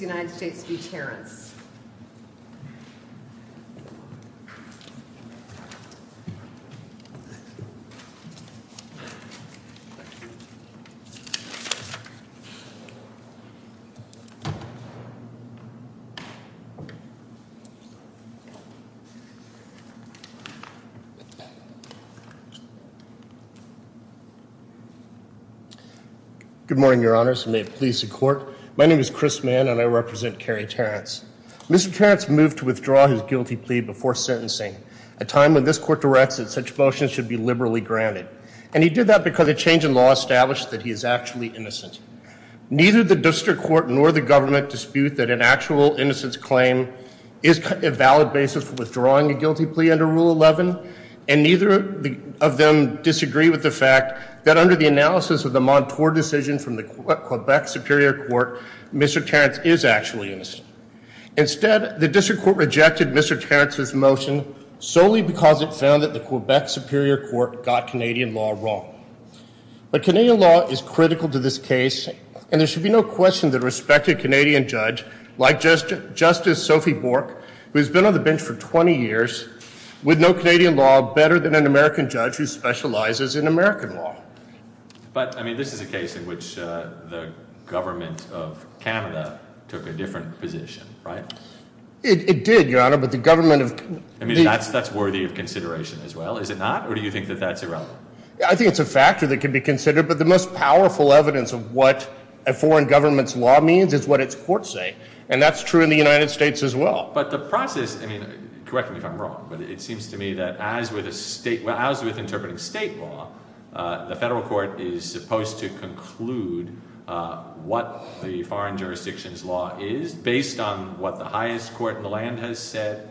v. United States v. Terrence. Mr. Terrence moved to withdraw his guilty plea before sentencing, a time when this court directs that such motions should be liberally granted, and he did that because a change in law established that he is actually innocent. Neither the district court nor the government dispute that an actual innocence claim is a valid basis for withdrawing a guilty plea under Rule 11, and neither of them disagree with the fact that under the analysis of the Montour decision from the Quebec Superior Court, Mr. Terrence is actually innocent. Instead, the district court rejected Mr. Terrence's motion solely because it found that the Quebec Superior Court got Canadian law wrong. But Canadian law is critical to this case, and there should be no question that a respected Canadian judge, like Justice Sophie Bork, who has been on the bench for 20 years, would know Canadian law better than an American judge who specializes in American law. But I mean, this is a case in which the government of Canada took a different position, right? It did, Your Honour, but the government of— I mean, that's worthy of consideration as well, is it not? Or do you think that that's irrelevant? I think it's a factor that can be considered, but the most powerful evidence of what a foreign government's law means is what its courts say, and that's true in the United States as well. But the process—I mean, correct me if I'm wrong, but it seems to me that as with interpreting state law, the federal court is supposed to conclude what the foreign jurisdiction's law is based on what the highest court in the land has said,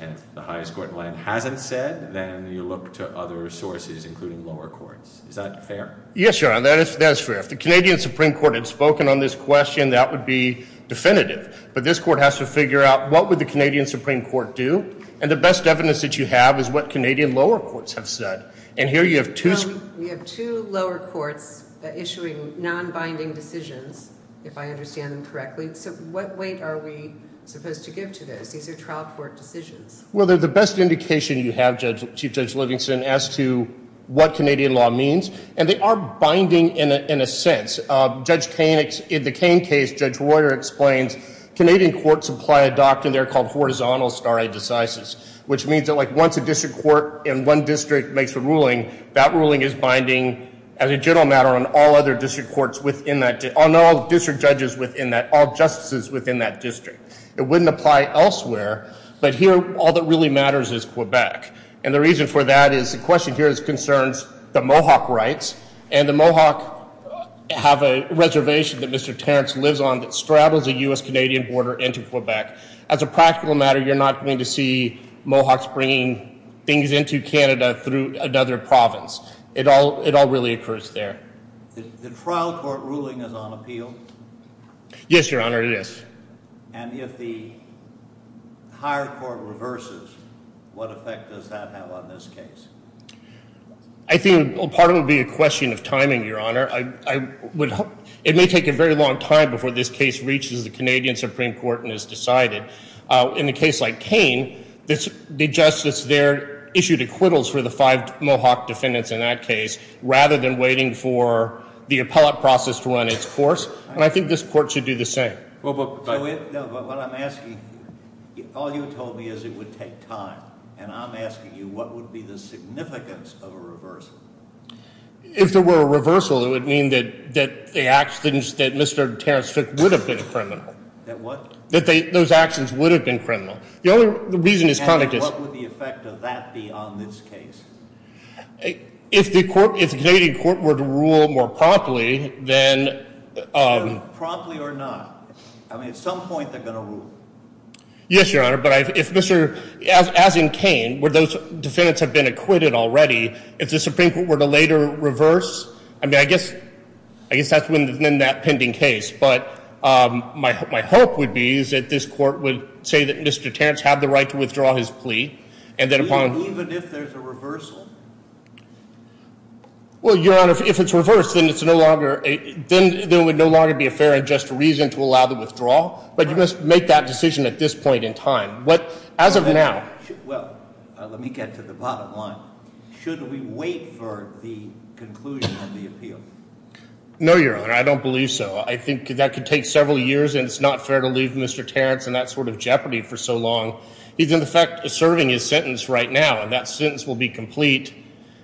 and if the highest court in the land hasn't said, then you look to other sources, including lower courts. Is that fair? Yes, Your Honour, that is fair. If the Canadian Supreme Court had spoken on this question, that would be definitive. But this court has to figure out what would the Canadian Supreme Court do, and the best evidence that you have is what Canadian lower courts have said. And here you have two— We have two lower courts issuing non-binding decisions, if I understand them correctly. So what weight are we supposed to give to those? These are trial court decisions. Well, they're the best indication you have, Chief Judge Livingston, as to what Canadian law means, and they are binding in a sense. Judge Kane—in the Kane case, Judge Royer explains Canadian courts apply a doctrine there called horizontal stare decisis, which means that like once a district court in one district makes a ruling, that ruling is binding as a general matter on all other district courts within that—on all district judges within that—all justices within that district. It wouldn't apply elsewhere, but here all that really matters is Quebec. And the reason for that is the question here is concerns the Mohawk rights, and the Mohawk have a reservation that Mr. Terence lives on that straddles the U.S.-Canadian border into Quebec. As a practical matter, you're not going to see Mohawks bringing things into Canada through another province. It all really occurs there. The trial court ruling is on appeal? Yes, Your Honor, it is. And if the higher court reverses, what effect does that have on this case? I think part of it would be a question of timing, Your Honor. It may take a very long time before this case reaches the Canadian Supreme Court and is decided. In a case like Kane, the justice there issued acquittals for the five Mohawk defendants in that case rather than waiting for the appellate process to run its course, and I think this court should do the same. Well, but— No, but what I'm asking—all you told me is it would take time, and I'm asking you what would be the significance of a reversal? If there were a reversal, it would mean that the actions that Mr. Terence took would have been criminal. That what? That those actions would have been criminal. The only reason is— And what would the effect of that be on this case? If the Canadian court were to rule more promptly, then— Promptly or not. I mean, at some point they're going to rule. Yes, Your Honor, but if Mr.—as in Kane, where those defendants have been acquitted already, if the Supreme Court were to later reverse, I mean, I guess that's within that defending case, but my hope would be is that this court would say that Mr. Terence had the right to withdraw his plea, and then upon— Even if there's a reversal? Well, Your Honor, if it's reversed, then it's no longer—then there would no longer be a fair and just reason to allow the withdrawal, but you must make that decision at this point in time. What—as of now— Well, let me get to the bottom line. Should we wait for the conclusion of the appeal? No, Your Honor, I don't believe so. I think that could take several years, and it's not fair to leave Mr. Terence in that sort of jeopardy for so long. He's, in effect, serving his sentence right now, and that sentence will be complete,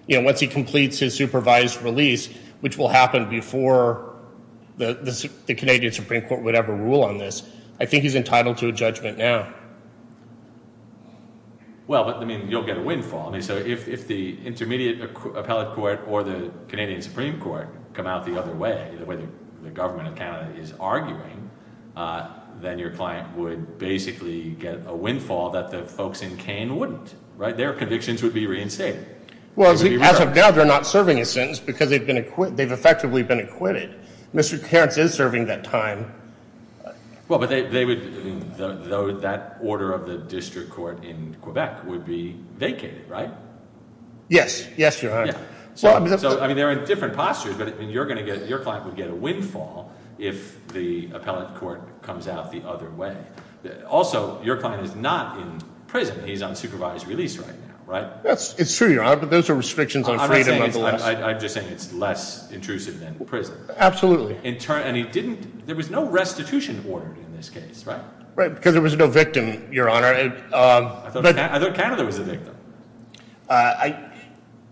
you know, once he completes his supervised release, which will happen before the Canadian Supreme Court would ever rule on this. I think he's entitled to a judgment now. Well, but, I mean, you'll get a windfall. I mean, so if the intermediate appellate court or the Canadian Supreme Court come out the other way, the way the government of Canada is arguing, then your client would basically get a windfall that the folks in Kane wouldn't, right? Their convictions would be reinstated. Well, as of now, they're not serving his sentence because they've effectively been acquitted. Mr. Terence is serving that time. Well, but they would—that order of the district court in Quebec would be vacated, right? Yes. Yes, Your Honor. So, I mean, they're in different postures, but you're going to get—your client would get a windfall if the appellate court comes out the other way. Also, your client is not in prison. He's on supervised release right now, right? It's true, Your Honor, but those are restrictions on freedom of the law. I'm just saying it's less intrusive than prison. Absolutely. And he didn't—there was no restitution ordered in this case, right? Right, because there was no victim, Your Honor. I thought Canada was the victim.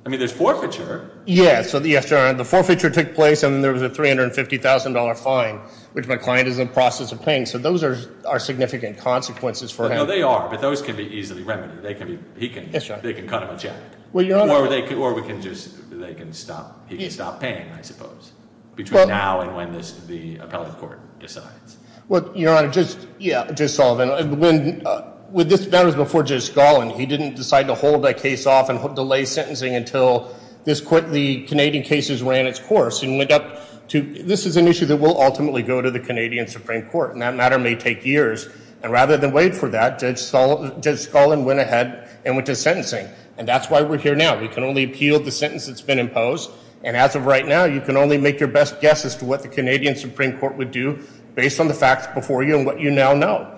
I mean, there's forfeiture. Yes, Your Honor. The forfeiture took place and there was a $350,000 fine, which my client is in the process of paying, so those are significant consequences for him. No, they are, but those can be easily remedied. They can be—he can— Yes, Your Honor. They can cut him a check. Well, Your Honor— Or they can just—they can stop—he can stop paying, I suppose, between now and when the appellate court decides. Well, Your Honor, Judge Sullivan, when—that was before Judge Scallon. He didn't decide to hold that case off and delay sentencing until the Canadian cases ran its course and went up to—this is an issue that will ultimately go to the Canadian Supreme Court, and that matter may take years. And rather than wait for that, Judge Scallon went ahead and went to sentencing, and that's why we're here now. We can only appeal the sentence that's been imposed, and as of right now, you can only make your best guess as to what the Canadian facts before you and what you now know.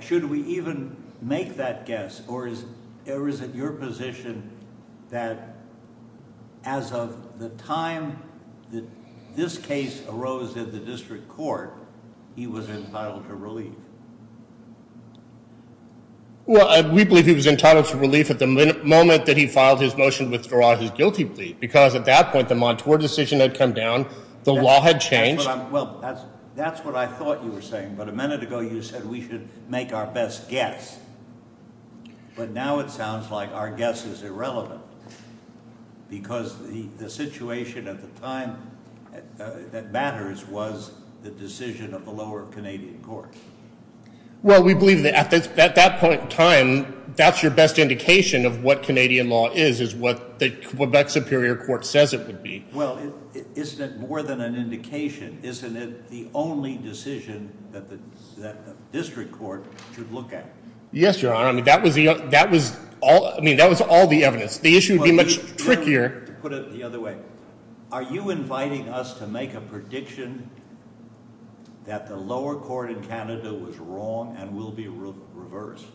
Should we even make that guess, or is it your position that as of the time that this case arose in the district court, he was entitled to relief? Well, we believe he was entitled to relief at the moment that he filed his motion withdraw his guilty plea because at that point, the Montour decision had come down. The law had changed. Well, that's what I thought you were saying, but a minute ago you said we should make our best guess, but now it sounds like our guess is irrelevant because the situation at the time that matters was the decision of the lower Canadian court. Well, we believe that at that point in time, that's your best indication of what Canadian law is, is what the Quebec Superior Court says it would be. Well, isn't it more than an indication? Isn't it the only decision that the district court should look at? Yes, Your Honor. I mean, that was all the evidence. The issue would be much trickier. To put it the other way, are you inviting us to make a prediction that the lower court in Canada was wrong and will be reversed?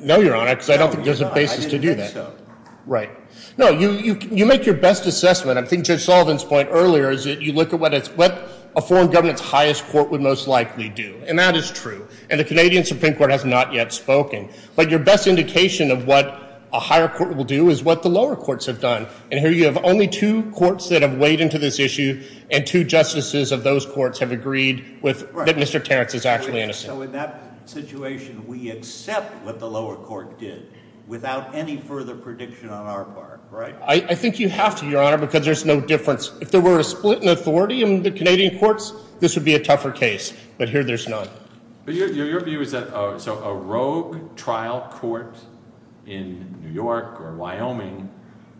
No, Your Honor, because I don't think there's a basis to do that. I didn't think so. Right. No, you make your best assessment. I think Judge Sullivan's point earlier is that you look at what a foreign government's highest court would most likely do, and that is true, and the Canadian Supreme Court has not yet spoken. But your best indication of what a higher court will do is what the lower courts have done, and here you have only two courts that have weighed into this issue and two justices of those courts have agreed that Mr. Terrence is actually innocent. So in that situation, we accept what the lower court did without any further prediction on our part, right? I think you have to, Your Honor, because there's no difference. If there were a split in authority in the Canadian courts, this would be a tougher case, but here there's none. But your view is that a rogue trial court in New York or Wyoming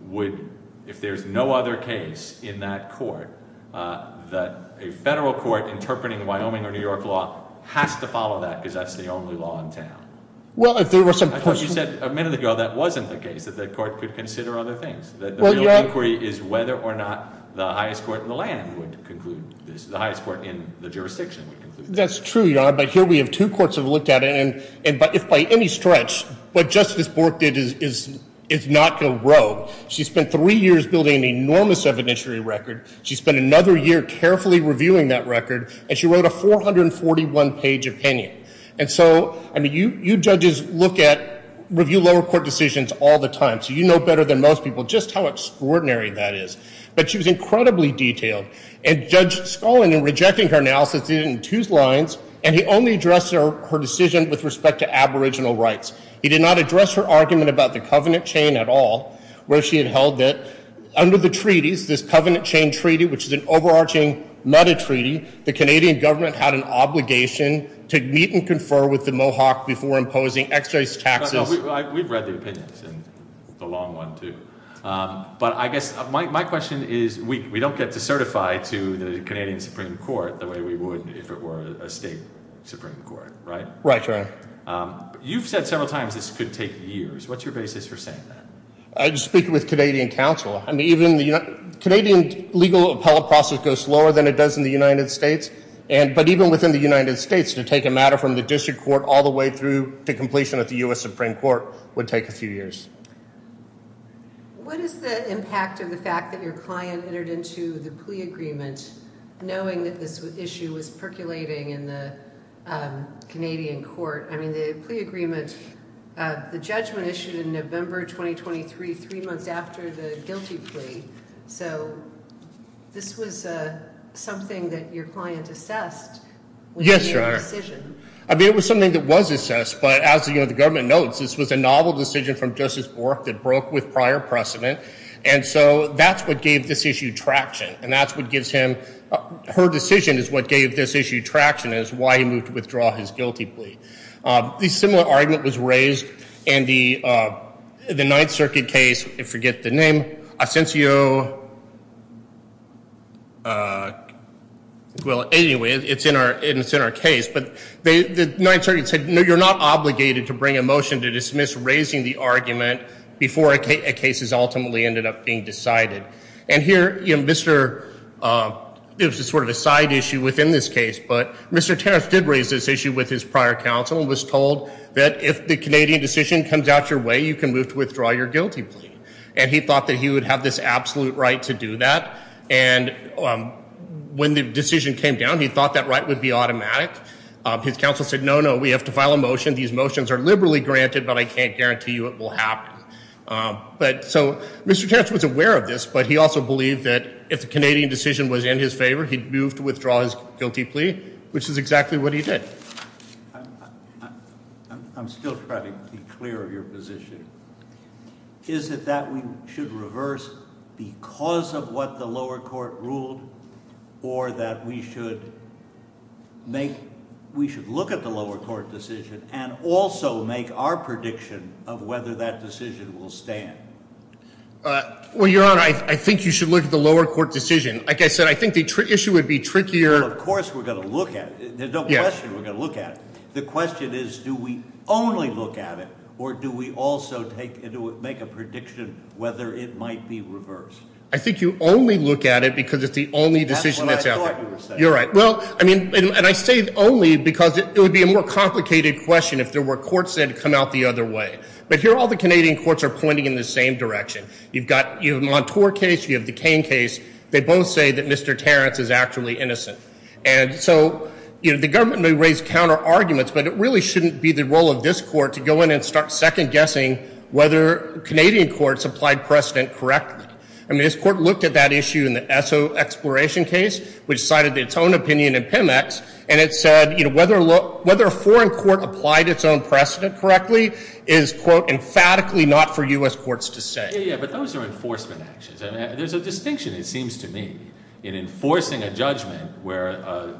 would, if there's no other case in that court, that a federal court interpreting Wyoming or New York law has to follow that because that's the only law in town. That's what you said a minute ago. That wasn't the case, that the court could consider other things. The real inquiry is whether or not the highest court in the land would conclude this, the highest court in the jurisdiction would conclude this. That's true, Your Honor, but here we have two courts that have looked at it, and if by any stretch, what Justice Bork did is not go rogue. She spent three years building an enormous evidentiary record. She spent another year carefully reviewing that record, and she wrote a 441-page opinion. And so, I mean, you judges look at review lower court decisions all the time, so you know better than most people just how extraordinary that is. But she was incredibly detailed. And Judge Scullin, in rejecting her analysis, didn't choose lines, and he only addressed her decision with respect to Aboriginal rights. He did not address her argument about the covenant chain at all, where she had held that under the treaties, this covenant chain treaty, which is an overarching meta-treaty, the Canadian government had an obligation to meet and confer with the Mohawk before imposing excess taxes. We've read the opinions, and the long one, too. But I guess my question is we don't get to certify to the Canadian Supreme Court the way we would if it were a state Supreme Court, right? Right, Your Honor. You've said several times this could take years. What's your basis for saying that? I just speak with Canadian counsel. Canadian legal appellate process goes slower than it does in the United States. But even within the United States, to take a matter from the district court all the way through to completion at the U.S. Supreme Court would take a few years. What is the impact of the fact that your client entered into the plea agreement knowing that this issue was percolating in the Canadian court? I mean, the plea agreement, the judgment issued in November 2023, three months after the guilty plea. So this was something that your client assessed when he made that decision. I mean, it was something that was assessed, but as the government notes, this was a novel decision from Justice Bork that broke with prior precedent. And so that's what gave this issue traction, and that's what gives him her decision is what gave this issue traction is why he moved to withdraw his guilty plea. A similar argument was raised in the Ninth Circuit case. I forget the name. Asencio, well, anyway, it's in our case. But the Ninth Circuit said, no, you're not obligated to bring a motion to dismiss raising the argument before a case has ultimately ended up being decided. And here, you know, Mr. – it was sort of a side issue within this case, but Mr. Terrence did raise this issue with his prior counsel and was told that if the Canadian decision comes out your way, you can move to withdraw your guilty plea. And he thought that he would have this absolute right to do that, and when the decision came down, he thought that right would be automatic. His counsel said, no, no, we have to file a motion. These motions are liberally granted, but I can't guarantee you it will happen. But so Mr. Terrence was aware of this, but he also believed that if the Canadian decision was in his favor, he'd move to withdraw his guilty plea, which is exactly what he did. I'm still trying to be clear of your position. Is it that we should reverse because of what the lower court ruled or that we should make – we should look at the lower court decision and also make our prediction of whether that decision will stand? Well, Your Honor, I think you should look at the lower court decision. Like I said, I think the issue would be trickier. Well, of course we're going to look at it. There's no question we're going to look at it. The question is do we only look at it or do we also make a prediction whether it might be reversed? I think you only look at it because it's the only decision that's out there. That's what I thought you were saying. You're right. Well, I mean, and I say only because it would be a more complicated question if there were courts that had come out the other way. But here all the Canadian courts are pointing in the same direction. You've got – you have Montour case, you have the Cain case. They both say that Mr. Terrence is actually innocent. And so the government may raise counterarguments, but it really shouldn't be the role of this court to go in and start second-guessing whether Canadian courts applied precedent correctly. I mean, this court looked at that issue in the Esso Exploration case, which cited its own opinion in PEMEX, and it said whether a foreign court applied its own precedent correctly is, quote, emphatically not for U.S. courts to say. Yeah, yeah, but those are enforcement actions. There's a distinction, it seems to me, in enforcing a judgment where a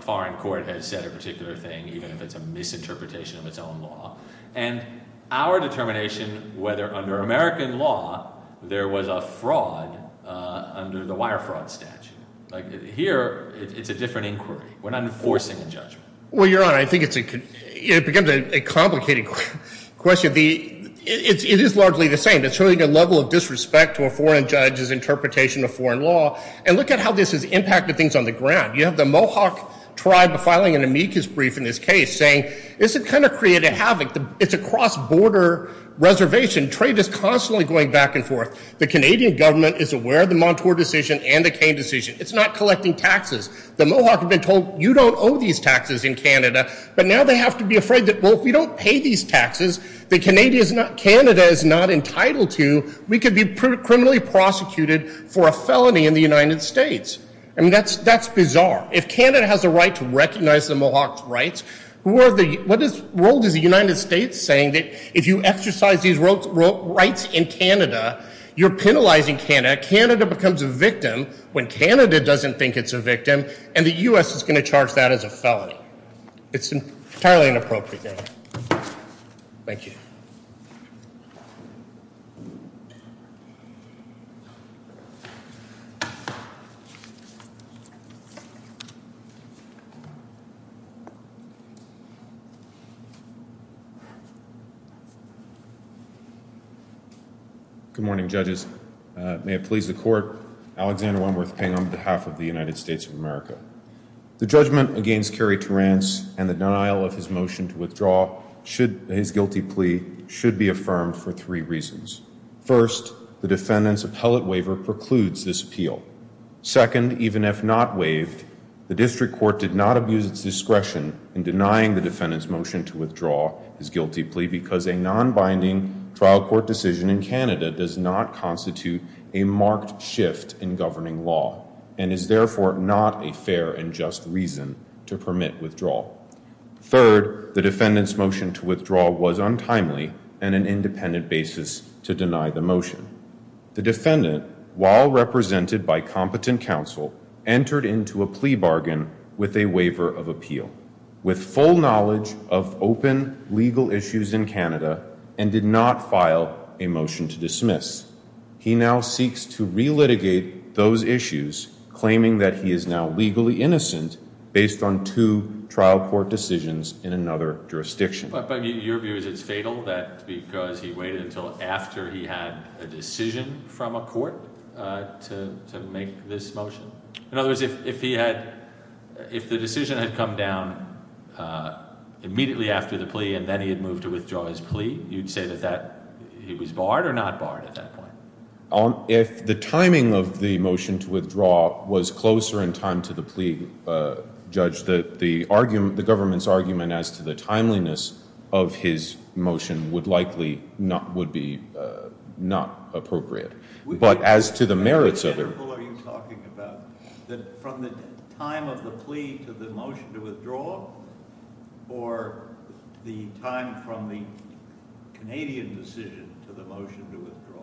foreign court has said a particular thing, even if it's a misinterpretation of its own law, and our determination whether under American law there was a fraud under the wire fraud statute. Here it's a different inquiry. We're not enforcing a judgment. Well, Your Honor, I think it becomes a complicated question. It is largely the same. It's showing a level of disrespect to a foreign judge's interpretation of foreign law. And look at how this has impacted things on the ground. You have the Mohawk tribe filing an amicus brief in this case saying this has kind of created havoc. It's a cross-border reservation. Trade is constantly going back and forth. The Canadian government is aware of the Montour decision and the Cain decision. It's not collecting taxes. The Mohawk have been told, you don't owe these taxes in Canada, but now they have to be afraid that, well, if we don't pay these taxes that Canada is not entitled to, we could be criminally prosecuted for a felony in the United States. I mean, that's bizarre. If Canada has a right to recognize the Mohawk's rights, what role does the United States play in saying that if you exercise these rights in Canada, you're penalizing Canada, and that Canada becomes a victim when Canada doesn't think it's a victim, and the U.S. is going to charge that as a felony. It's entirely inappropriate. Thank you. Good morning, judges. May it please the court. Alexander Wentworth Ping on behalf of the United States of America. The judgment against Kerry Terrance and the denial of his motion to withdraw his guilty plea should be affirmed for three reasons. First, the defendant's appellate waiver precludes this appeal. Second, even if not waived, the district court did not abuse its discretion in denying the defendant's motion to withdraw his guilty plea because a nonbinding trial court decision in Canada does not constitute a marked shift in governing law and is therefore not a fair and just reason to permit withdrawal. Third, the defendant's motion to withdraw was untimely and an independent basis to deny the motion. The defendant, while represented by competent counsel, entered into a plea bargain with a waiver of appeal with full knowledge of open legal issues in Canada and did not file a motion to dismiss. He now seeks to relitigate those issues, claiming that he is now legally innocent based on two trial court decisions in another jurisdiction. But your view is it's fatal that because he waited until after he had a decision from a court to make this motion? In other words, if the decision had come down immediately after the plea and then he had moved to withdraw his plea, you'd say that he was barred or not barred at that point? If the timing of the motion to withdraw was closer in time to the plea, Judge, the government's argument as to the timeliness of his motion would likely not be appropriate. But as to the merits of it... Which example are you talking about? From the time of the plea to the motion to withdraw or the time from the Canadian decision to the motion to withdraw?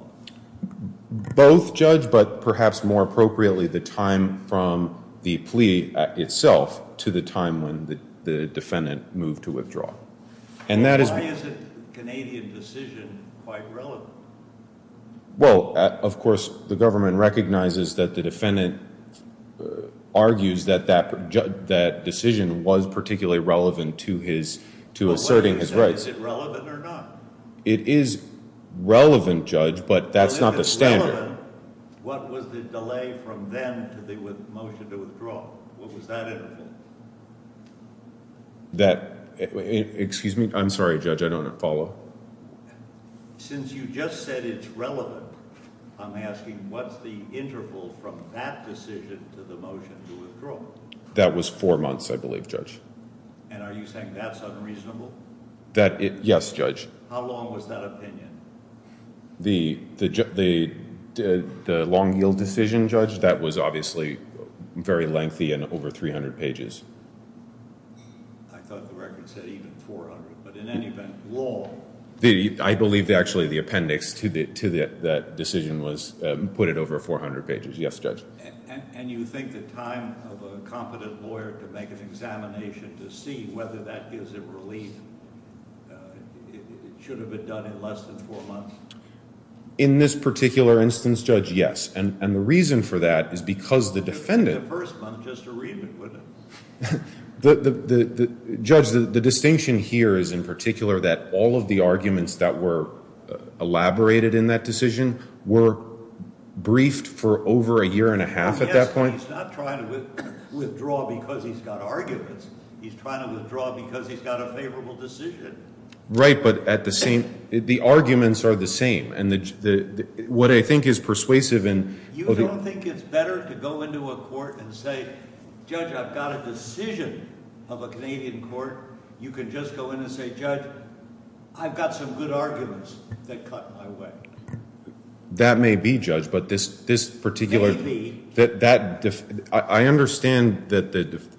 Both, Judge, but perhaps more appropriately, the time from the plea itself to the time when the defendant moved to withdraw. And why is the Canadian decision quite relevant? Well, of course, the government recognizes that the defendant argues that that decision was particularly relevant to asserting his rights. Is it relevant or not? It is relevant, Judge, but that's not the standard. If it's relevant, what was the delay from then to the motion to withdraw? What was that interval? Excuse me, I'm sorry, Judge, I don't follow. Since you just said it's relevant, I'm asking what's the interval from that decision to the motion to withdraw? That was four months, I believe, Judge. And are you saying that's unreasonable? Yes, Judge. How long was that opinion? The long-yield decision, Judge, that was obviously very lengthy and over 300 pages. I thought the record said even 400, but in any event, long. I believe, actually, the appendix to that decision put it over 400 pages. Yes, Judge. And you think the time of a competent lawyer to make an examination to see whether that gives him relief should have been done in less than four months? In this particular instance, Judge, yes. And the reason for that is because the defendant – In the first month, just to read it, wouldn't it? Judge, the distinction here is, in particular, that all of the arguments that were elaborated in that decision were briefed for over a year and a half at that point. Yes, but he's not trying to withdraw because he's got arguments. He's trying to withdraw because he's got a favorable decision. Right, but at the same – the arguments are the same. And what I think is persuasive in – You don't think it's better to go into a court and say, Judge, I've got a decision of a Canadian court. You can just go in and say, Judge, I've got some good arguments that cut my way. That may be, Judge, but this particular – I understand that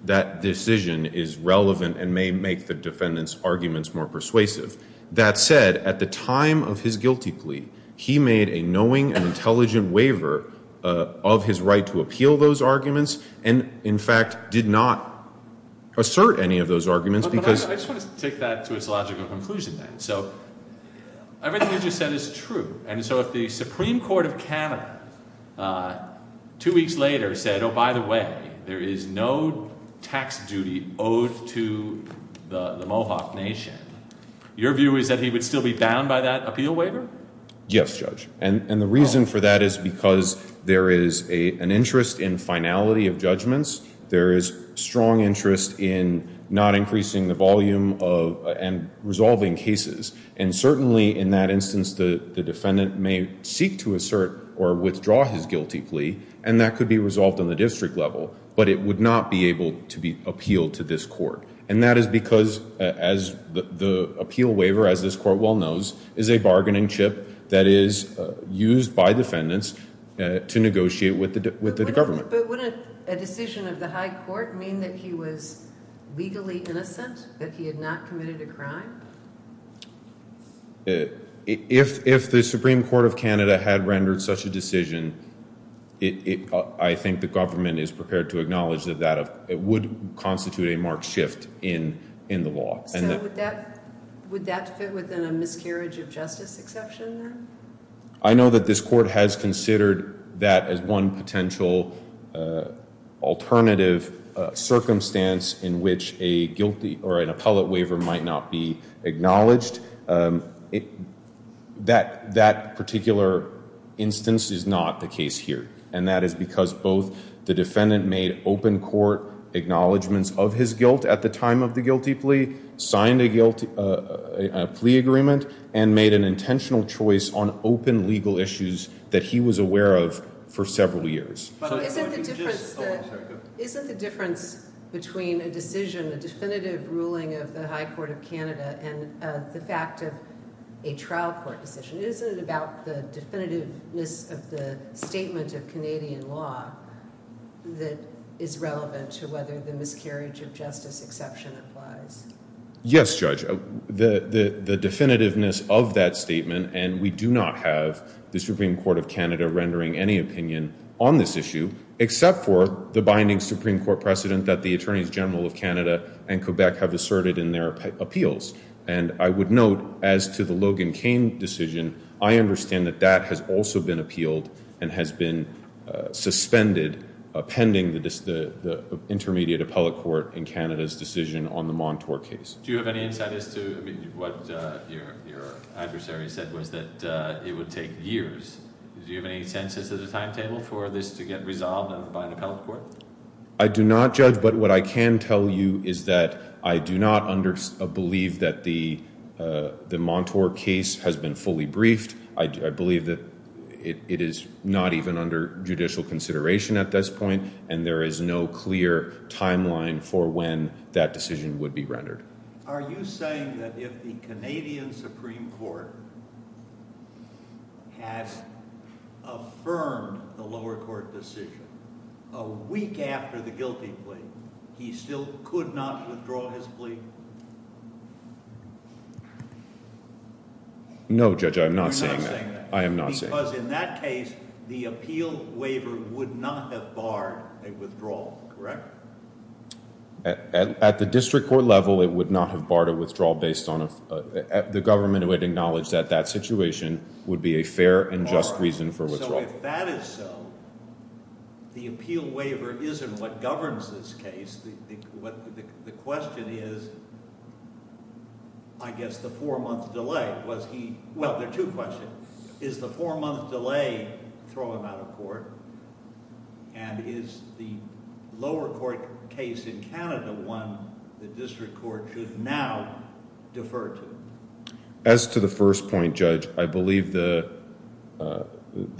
that decision is relevant and may make the defendant's arguments more persuasive. That said, at the time of his guilty plea, he made a knowing and intelligent waiver of his right to appeal those arguments and, in fact, did not assert any of those arguments because – But I just want to take that to its logical conclusion then. So everything you just said is true. And so if the Supreme Court of Canada two weeks later said, oh, by the way, there is no tax duty owed to the Mohawk Nation, your view is that he would still be bound by that appeal waiver? Yes, Judge. And the reason for that is because there is an interest in finality of judgments. There is strong interest in not increasing the volume and resolving cases. And certainly in that instance, the defendant may seek to assert or withdraw his guilty plea, and that could be resolved on the district level, but it would not be able to be appealed to this court. And that is because, as the appeal waiver, as this court well knows, is a bargaining chip that is used by defendants to negotiate with the government. But wouldn't a decision of the high court mean that he was legally innocent, that he had not committed a crime? If the Supreme Court of Canada had rendered such a decision, I think the government is prepared to acknowledge that that would constitute a marked shift in the law. So would that fit within a miscarriage of justice exception then? I know that this court has considered that as one potential alternative circumstance in which a guilty or an appellate waiver might not be acknowledged. That particular instance is not the case here, and that is because both the defendant made open court acknowledgements of his guilt at the time of the guilty plea, signed a plea agreement, and made an intentional choice on open legal issues that he was aware of for several years. Isn't the difference between a decision, a definitive ruling of the high court of Canada, and the fact of a trial court decision, isn't it about the definitiveness of the statement of Canadian law that is relevant to whether the miscarriage of justice exception applies? Yes, Judge. The definitiveness of that statement, and we do not have the Supreme Court of Canada rendering any opinion on this issue, except for the binding Supreme Court precedent that the Attorneys General of Canada and Quebec have asserted in their appeals. And I would note, as to the Logan Cain decision, I understand that that has also been appealed and has been suspended pending the intermediate appellate court in Canada's decision on the Montour case. Do you have any insight as to what your adversary said was that it would take years? Do you have any sense as to the timetable for this to get resolved by an appellate court? I do not, Judge, but what I can tell you is that I do not believe that the Montour case has been fully briefed. I believe that it is not even under judicial consideration at this point, and there is no clear timeline for when that decision would be rendered. Are you saying that if the Canadian Supreme Court has affirmed the lower court decision, a week after the guilty plea, he still could not withdraw his plea? No, Judge, I am not saying that. I am not saying that. Because in that case, the appeal waiver would not have barred a withdrawal, correct? At the district court level, it would not have barred a withdrawal based on a the government would acknowledge that that situation would be a fair and just reason for withdrawal. If that is so, the appeal waiver is not what governs this case. The question is, I guess, the four-month delay. Well, there are two questions. Is the four-month delay throwing him out of court? And is the lower court case in Canada one the district court should now defer to? As to the first point, Judge, I believe the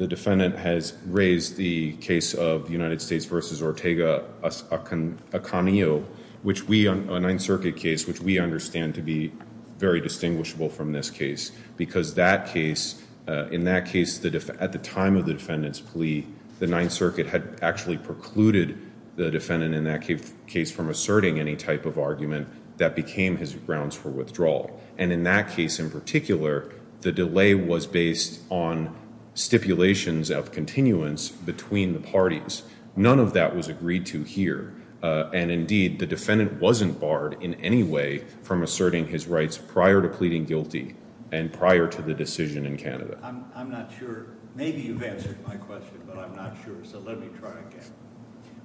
defendant has raised the case of United States v. Ortega-Acanio, a Ninth Circuit case, which we understand to be very distinguishable from this case. Because in that case, at the time of the defendant's plea, the Ninth Circuit had actually precluded the defendant in that case from asserting any type of argument that became his grounds for withdrawal. And in that case in particular, the delay was based on stipulations of continuance between the parties. None of that was agreed to here. And indeed, the defendant wasn't barred in any way from asserting his rights prior to pleading guilty and prior to the decision in Canada. I'm not sure. Maybe you've answered my question, but I'm not sure. So let me try again.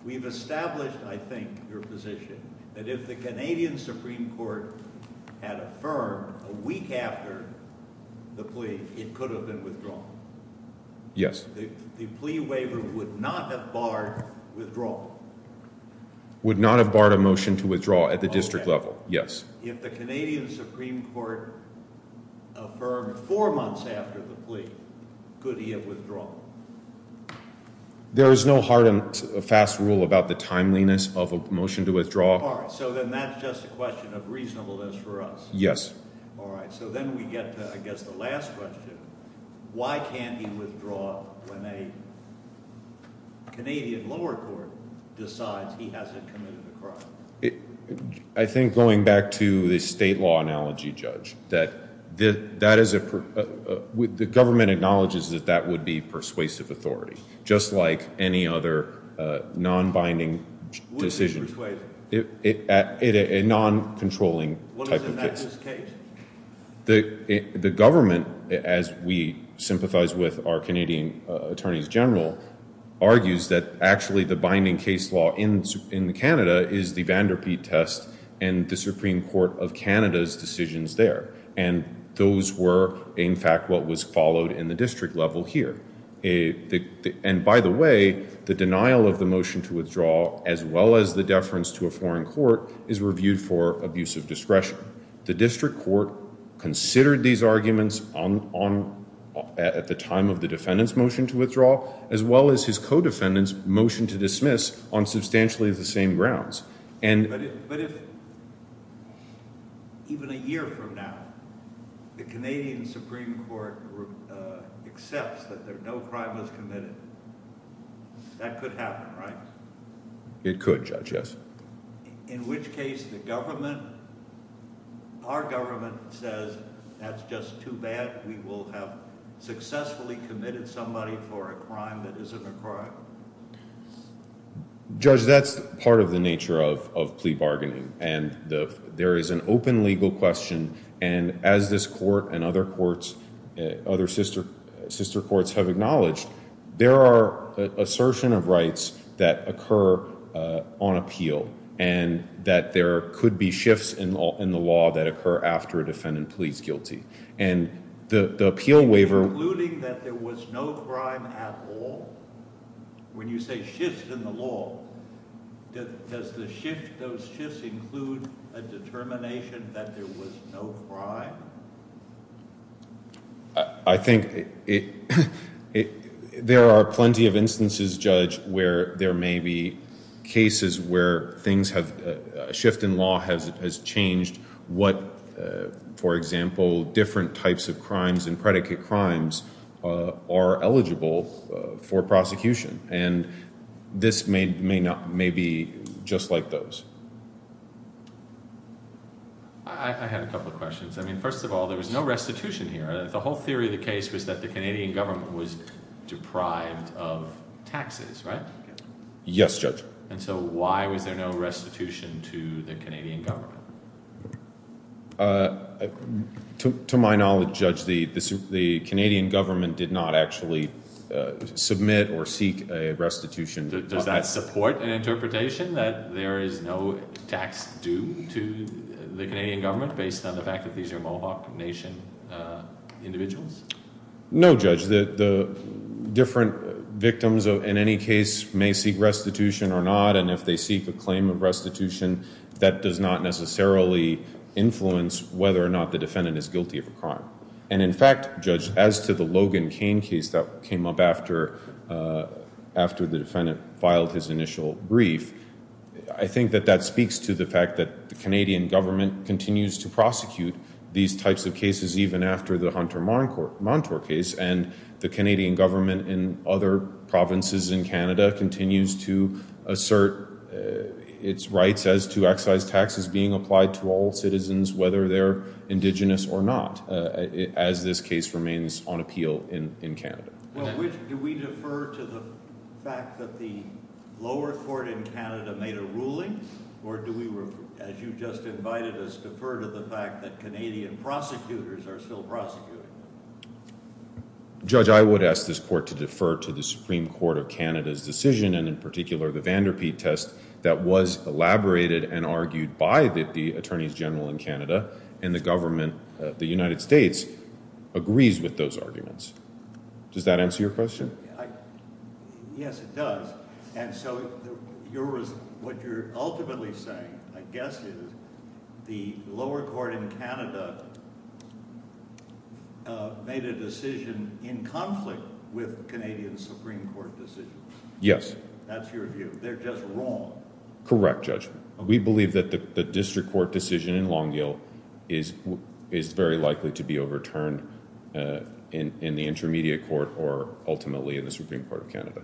We've established, I think, your position that if the Canadian Supreme Court had affirmed a week after the plea, it could have been withdrawn. Yes. The plea waiver would not have barred withdrawal. Would not have barred a motion to withdraw at the district level, yes. If the Canadian Supreme Court affirmed four months after the plea, could he have withdrawn? There is no hard and fast rule about the timeliness of a motion to withdraw. All right. So then that's just a question of reasonableness for us. Yes. All right. So then we get to, I guess, the last question. Why can't he withdraw when a Canadian lower court decides he hasn't committed a crime? I think going back to the state law analogy, Judge, that the government acknowledges that that would be persuasive authority, just like any other non-binding decision. A non-controlling type of decision. What is in that case? The government, as we sympathize with our Canadian attorneys general, argues that actually the binding case law in Canada is the Vanderpeet test and the Supreme Court of Canada's decisions there. And those were, in fact, what was followed in the district level here. And by the way, the denial of the motion to withdraw, as well as the deference to a foreign court, is reviewed for abuse of discretion. The district court considered these arguments at the time of the defendant's motion to withdraw, as well as his co-defendant's motion to dismiss, on substantially the same grounds. But if even a year from now the Canadian Supreme Court accepts that no crime was committed, that could happen, right? It could, Judge, yes. In which case the government, our government, says that's just too bad. We will have successfully committed somebody for a crime that isn't a crime. Judge, that's part of the nature of plea bargaining. And there is an open legal question. And as this court and other courts, other sister courts have acknowledged, there are assertion of rights that occur on appeal, and that there could be shifts in the law that occur after a defendant pleads guilty. And the appeal waiver... Including that there was no crime at all? When you say shifts in the law, does the shift, those shifts include a determination that there was no crime? I think there are plenty of instances, Judge, where there may be cases where things have, a shift in law has changed. What, for example, different types of crimes and predicate crimes are eligible for prosecution. And this may be just like those. I have a couple of questions. I mean, first of all, there was no restitution here. The whole theory of the case was that the Canadian government was deprived of taxes, right? Yes, Judge. And so why was there no restitution to the Canadian government? To my knowledge, Judge, the Canadian government did not actually submit or seek a restitution. Does that support an interpretation that there is no tax due to the Canadian government, based on the fact that these are Mohawk Nation individuals? No, Judge. The different victims, in any case, may seek restitution or not. And if they seek a claim of restitution, that does not necessarily influence whether or not the defendant is guilty of a crime. And in fact, Judge, as to the Logan Cain case that came up after the defendant filed his initial brief, I think that that speaks to the fact that the Canadian government continues to prosecute these types of cases, even after the Hunter Montour case. And the Canadian government in other provinces in Canada continues to assert its rights as to excise taxes being applied to all citizens, whether they're Indigenous or not, as this case remains on appeal in Canada. Well, do we defer to the fact that the lower court in Canada made a ruling, or do we, as you just invited us, defer to the fact that Canadian prosecutors are still prosecuting? Judge, I would ask this court to defer to the Supreme Court of Canada's decision, and in particular the Vanderpete test that was elaborated and argued by the Attorneys General in Canada, and the government of the United States agrees with those arguments. Does that answer your question? Yes, it does. And so what you're ultimately saying, I guess, is the lower court in Canada made a decision in conflict with Canadian Supreme Court decisions. Yes. That's your view. They're just wrong. Correct, Judge. We believe that the district court decision in Long Hill is very likely to be overturned in the intermediate court or ultimately in the Supreme Court of Canada.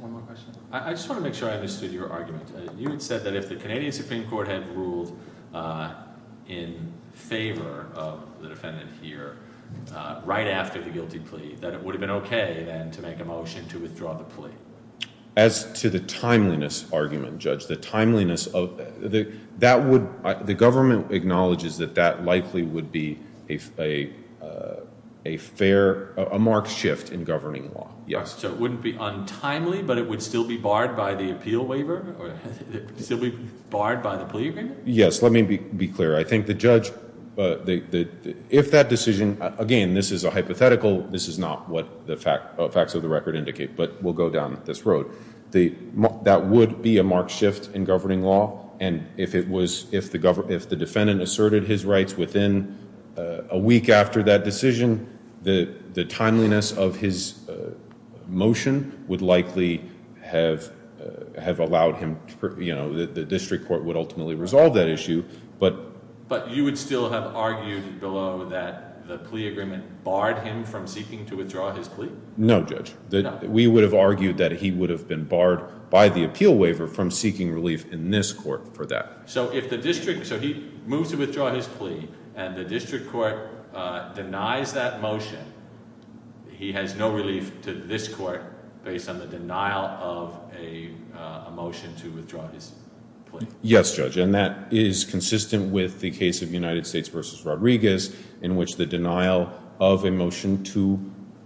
One more question. I just want to make sure I understood your argument. You had said that if the Canadian Supreme Court had ruled in favor of the defendant here right after the guilty plea, that it would have been okay, then, to make a motion to withdraw the plea. As to the timeliness argument, Judge, the timeliness of – that would – the government acknowledges that that likely would be a fair – a marked shift in governing law. Yes. So it wouldn't be untimely, but it would still be barred by the appeal waiver? It would still be barred by the plea agreement? Yes. Let me be clear. I think the judge – if that decision – again, this is a hypothetical. This is not what the facts of the record indicate, but we'll go down this road. That would be a marked shift in governing law. And if it was – if the defendant asserted his rights within a week after that decision, the timeliness of his motion would likely have allowed him – the district court would ultimately resolve that issue. But you would still have argued below that the plea agreement barred him from seeking to withdraw his plea? No, Judge. We would have argued that he would have been barred by the appeal waiver from seeking relief in this court for that. So if the district – so he moves to withdraw his plea and the district court denies that motion, he has no relief to this court based on the denial of a motion to withdraw his plea? Yes, Judge, and that is consistent with the case of United States v. Rodriguez in which the denial of a motion to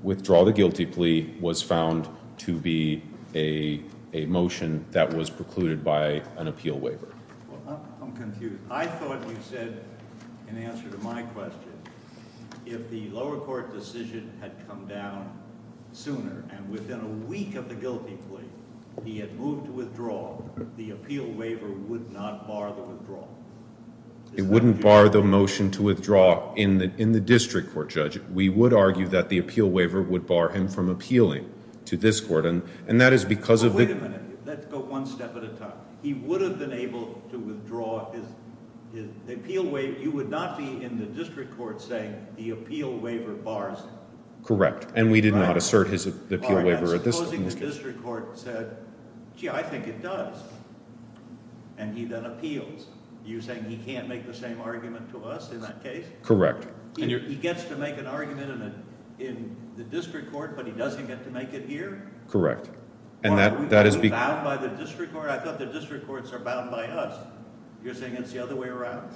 withdraw the guilty plea was found to be a motion that was precluded by an appeal waiver. Well, I'm confused. I thought you said, in answer to my question, if the lower court decision had come down sooner and within a week of the guilty plea, he had moved to withdraw, the appeal waiver would not bar the withdrawal. It wouldn't bar the motion to withdraw in the district court, Judge. We would argue that the appeal waiver would bar him from appealing to this court, and that is because of the – You would not be in the district court saying the appeal waiver bars him. Correct, and we did not assert his appeal waiver at this time. All right, supposing the district court said, gee, I think it does, and he then appeals. You're saying he can't make the same argument to us in that case? Correct. He gets to make an argument in the district court, but he doesn't get to make it here? Correct. Are we bound by the district court? I thought the district courts are bound by us. You're saying it's the other way around?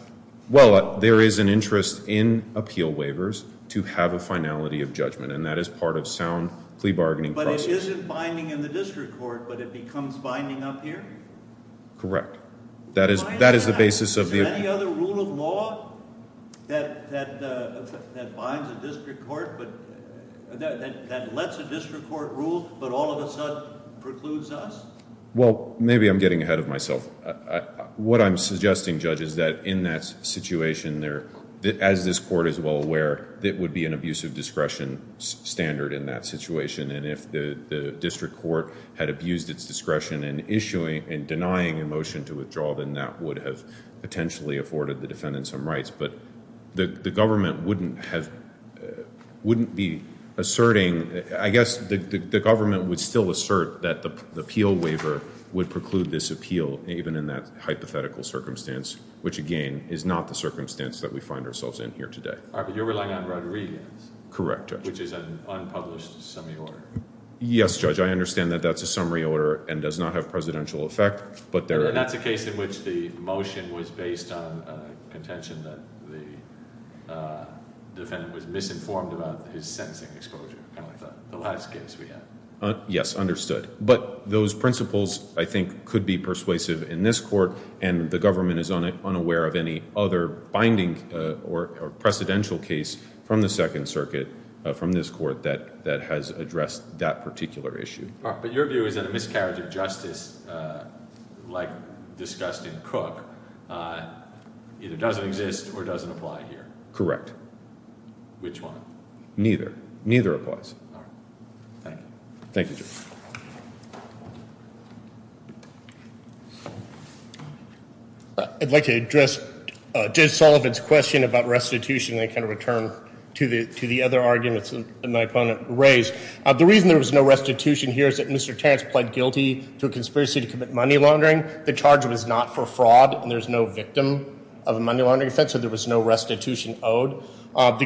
Well, there is an interest in appeal waivers to have a finality of judgment, and that is part of sound plea bargaining process. But it isn't binding in the district court, but it becomes binding up here? Correct. Is there any other rule of law that binds a district court, that lets a district court rule, but all of a sudden precludes us? Well, maybe I'm getting ahead of myself. What I'm suggesting, Judge, is that in that situation, as this court is well aware, there would be an abuse of discretion standard in that situation, and if the district court had abused its discretion in denying a motion to withdraw, then that would have potentially afforded the defendant some rights. But the government wouldn't be asserting—I guess the government would still assert that the appeal waiver would preclude this appeal, even in that hypothetical circumstance, which, again, is not the circumstance that we find ourselves in here today. All right, but you're relying on Rodriguez. Correct, Judge. Which is an unpublished summary order. Yes, Judge, I understand that that's a summary order and does not have presidential effect, but there— And that's a case in which the motion was based on a contention that the defendant was misinformed about his sentencing exposure, kind of like the last case we had. Yes, understood. But those principles, I think, could be persuasive in this court, and the government is unaware of any other binding or precedential case from the Second Circuit, from this court, that has addressed that particular issue. All right, but your view is that a miscarriage of justice, like discussed in Cook, either doesn't exist or doesn't apply here. Correct. Which one? Neither. Neither applies. All right. Thank you. Thank you, Judge. I'd like to address Judge Sullivan's question about restitution, and then kind of return to the other arguments that my opponent raised. The reason there was no restitution here is that Mr. Terrence pled guilty to a conspiracy to commit money laundering. The charge was not for fraud, and there's no victim of a money laundering offense, so there was no restitution owed. The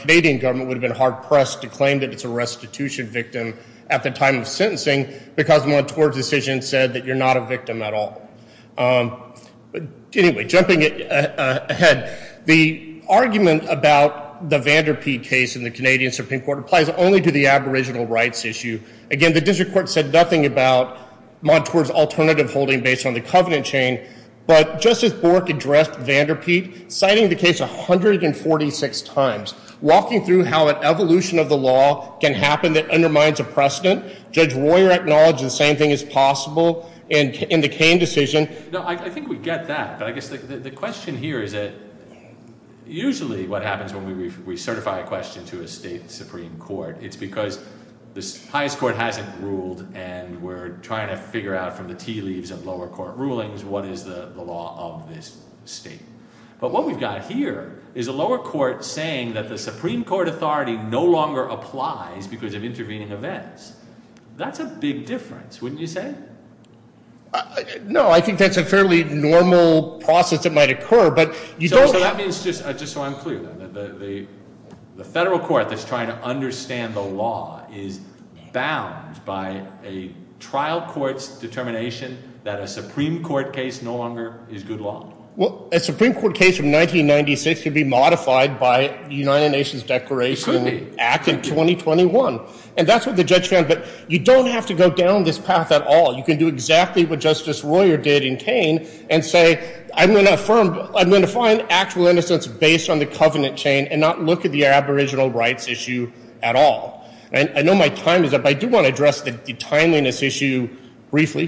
Canadian government would have been hard-pressed to claim that it's a restitution victim at the time of sentencing, because Montour's decision said that you're not a victim at all. Anyway, jumping ahead, the argument about the Vanderpete case in the Canadian Supreme Court applies only to the aboriginal rights issue. Again, the district court said nothing about Montour's alternative holding based on the covenant chain. But Justice Bork addressed Vanderpete, citing the case 146 times, walking through how an evolution of the law can happen that undermines a precedent. Judge Royer acknowledged the same thing is possible in the Cain decision. No, I think we get that, but I guess the question here is that usually what happens when we certify a question to a state supreme court, it's because the highest court hasn't ruled and we're trying to figure out from the tea leaves of lower court rulings what is the law of this state. But what we've got here is a lower court saying that the Supreme Court authority no longer applies because of intervening events. That's a big difference, wouldn't you say? No, I think that's a fairly normal process that might occur, but you don't— That means, just so I'm clear, the federal court that's trying to understand the law is bound by a trial court's determination that a Supreme Court case no longer is good law. Well, a Supreme Court case from 1996 could be modified by the United Nations Declaration Act of 2021. And that's what the judge found. But you don't have to go down this path at all. You can do exactly what Justice Royer did in Cain and say, I'm going to find actual innocence based on the covenant chain and not look at the aboriginal rights issue at all. I know my time is up. I do want to address the timeliness issue briefly.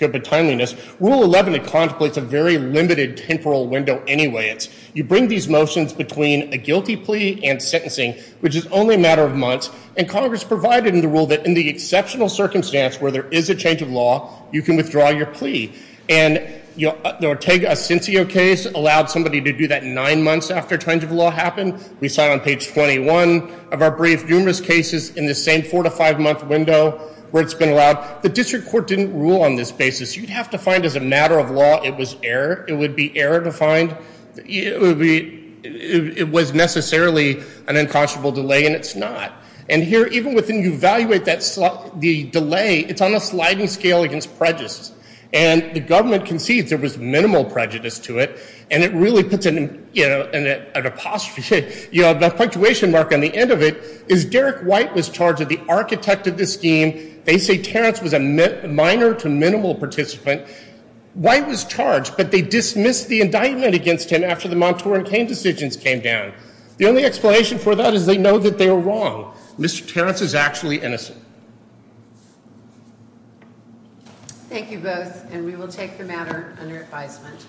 Rule 11 contemplates a very limited temporal window anyway. You bring these motions between a guilty plea and sentencing, which is only a matter of months. And Congress provided in the rule that in the exceptional circumstance where there is a change of law, you can withdraw your plea. And the Ortega-Asensio case allowed somebody to do that nine months after change of law happened. We saw on page 21 of our brief numerous cases in the same four- to five-month window where it's been allowed. The district court didn't rule on this basis. You'd have to find as a matter of law it was error. It would be error to find—it was necessarily an unconscionable delay, and it's not. And here, even when you evaluate the delay, it's on a sliding scale against prejudice. And the government concedes there was minimal prejudice to it, and it really puts an apostrophe, a punctuation mark on the end of it, is Derek White was charged as the architect of this scheme. They say Terrence was a minor to minimal participant. White was charged, but they dismissed the indictment against him after the Montour and Cain decisions came down. The only explanation for that is they know that they are wrong. Mr. Terrence is actually innocent. Thank you both, and we will take the matter under advisement.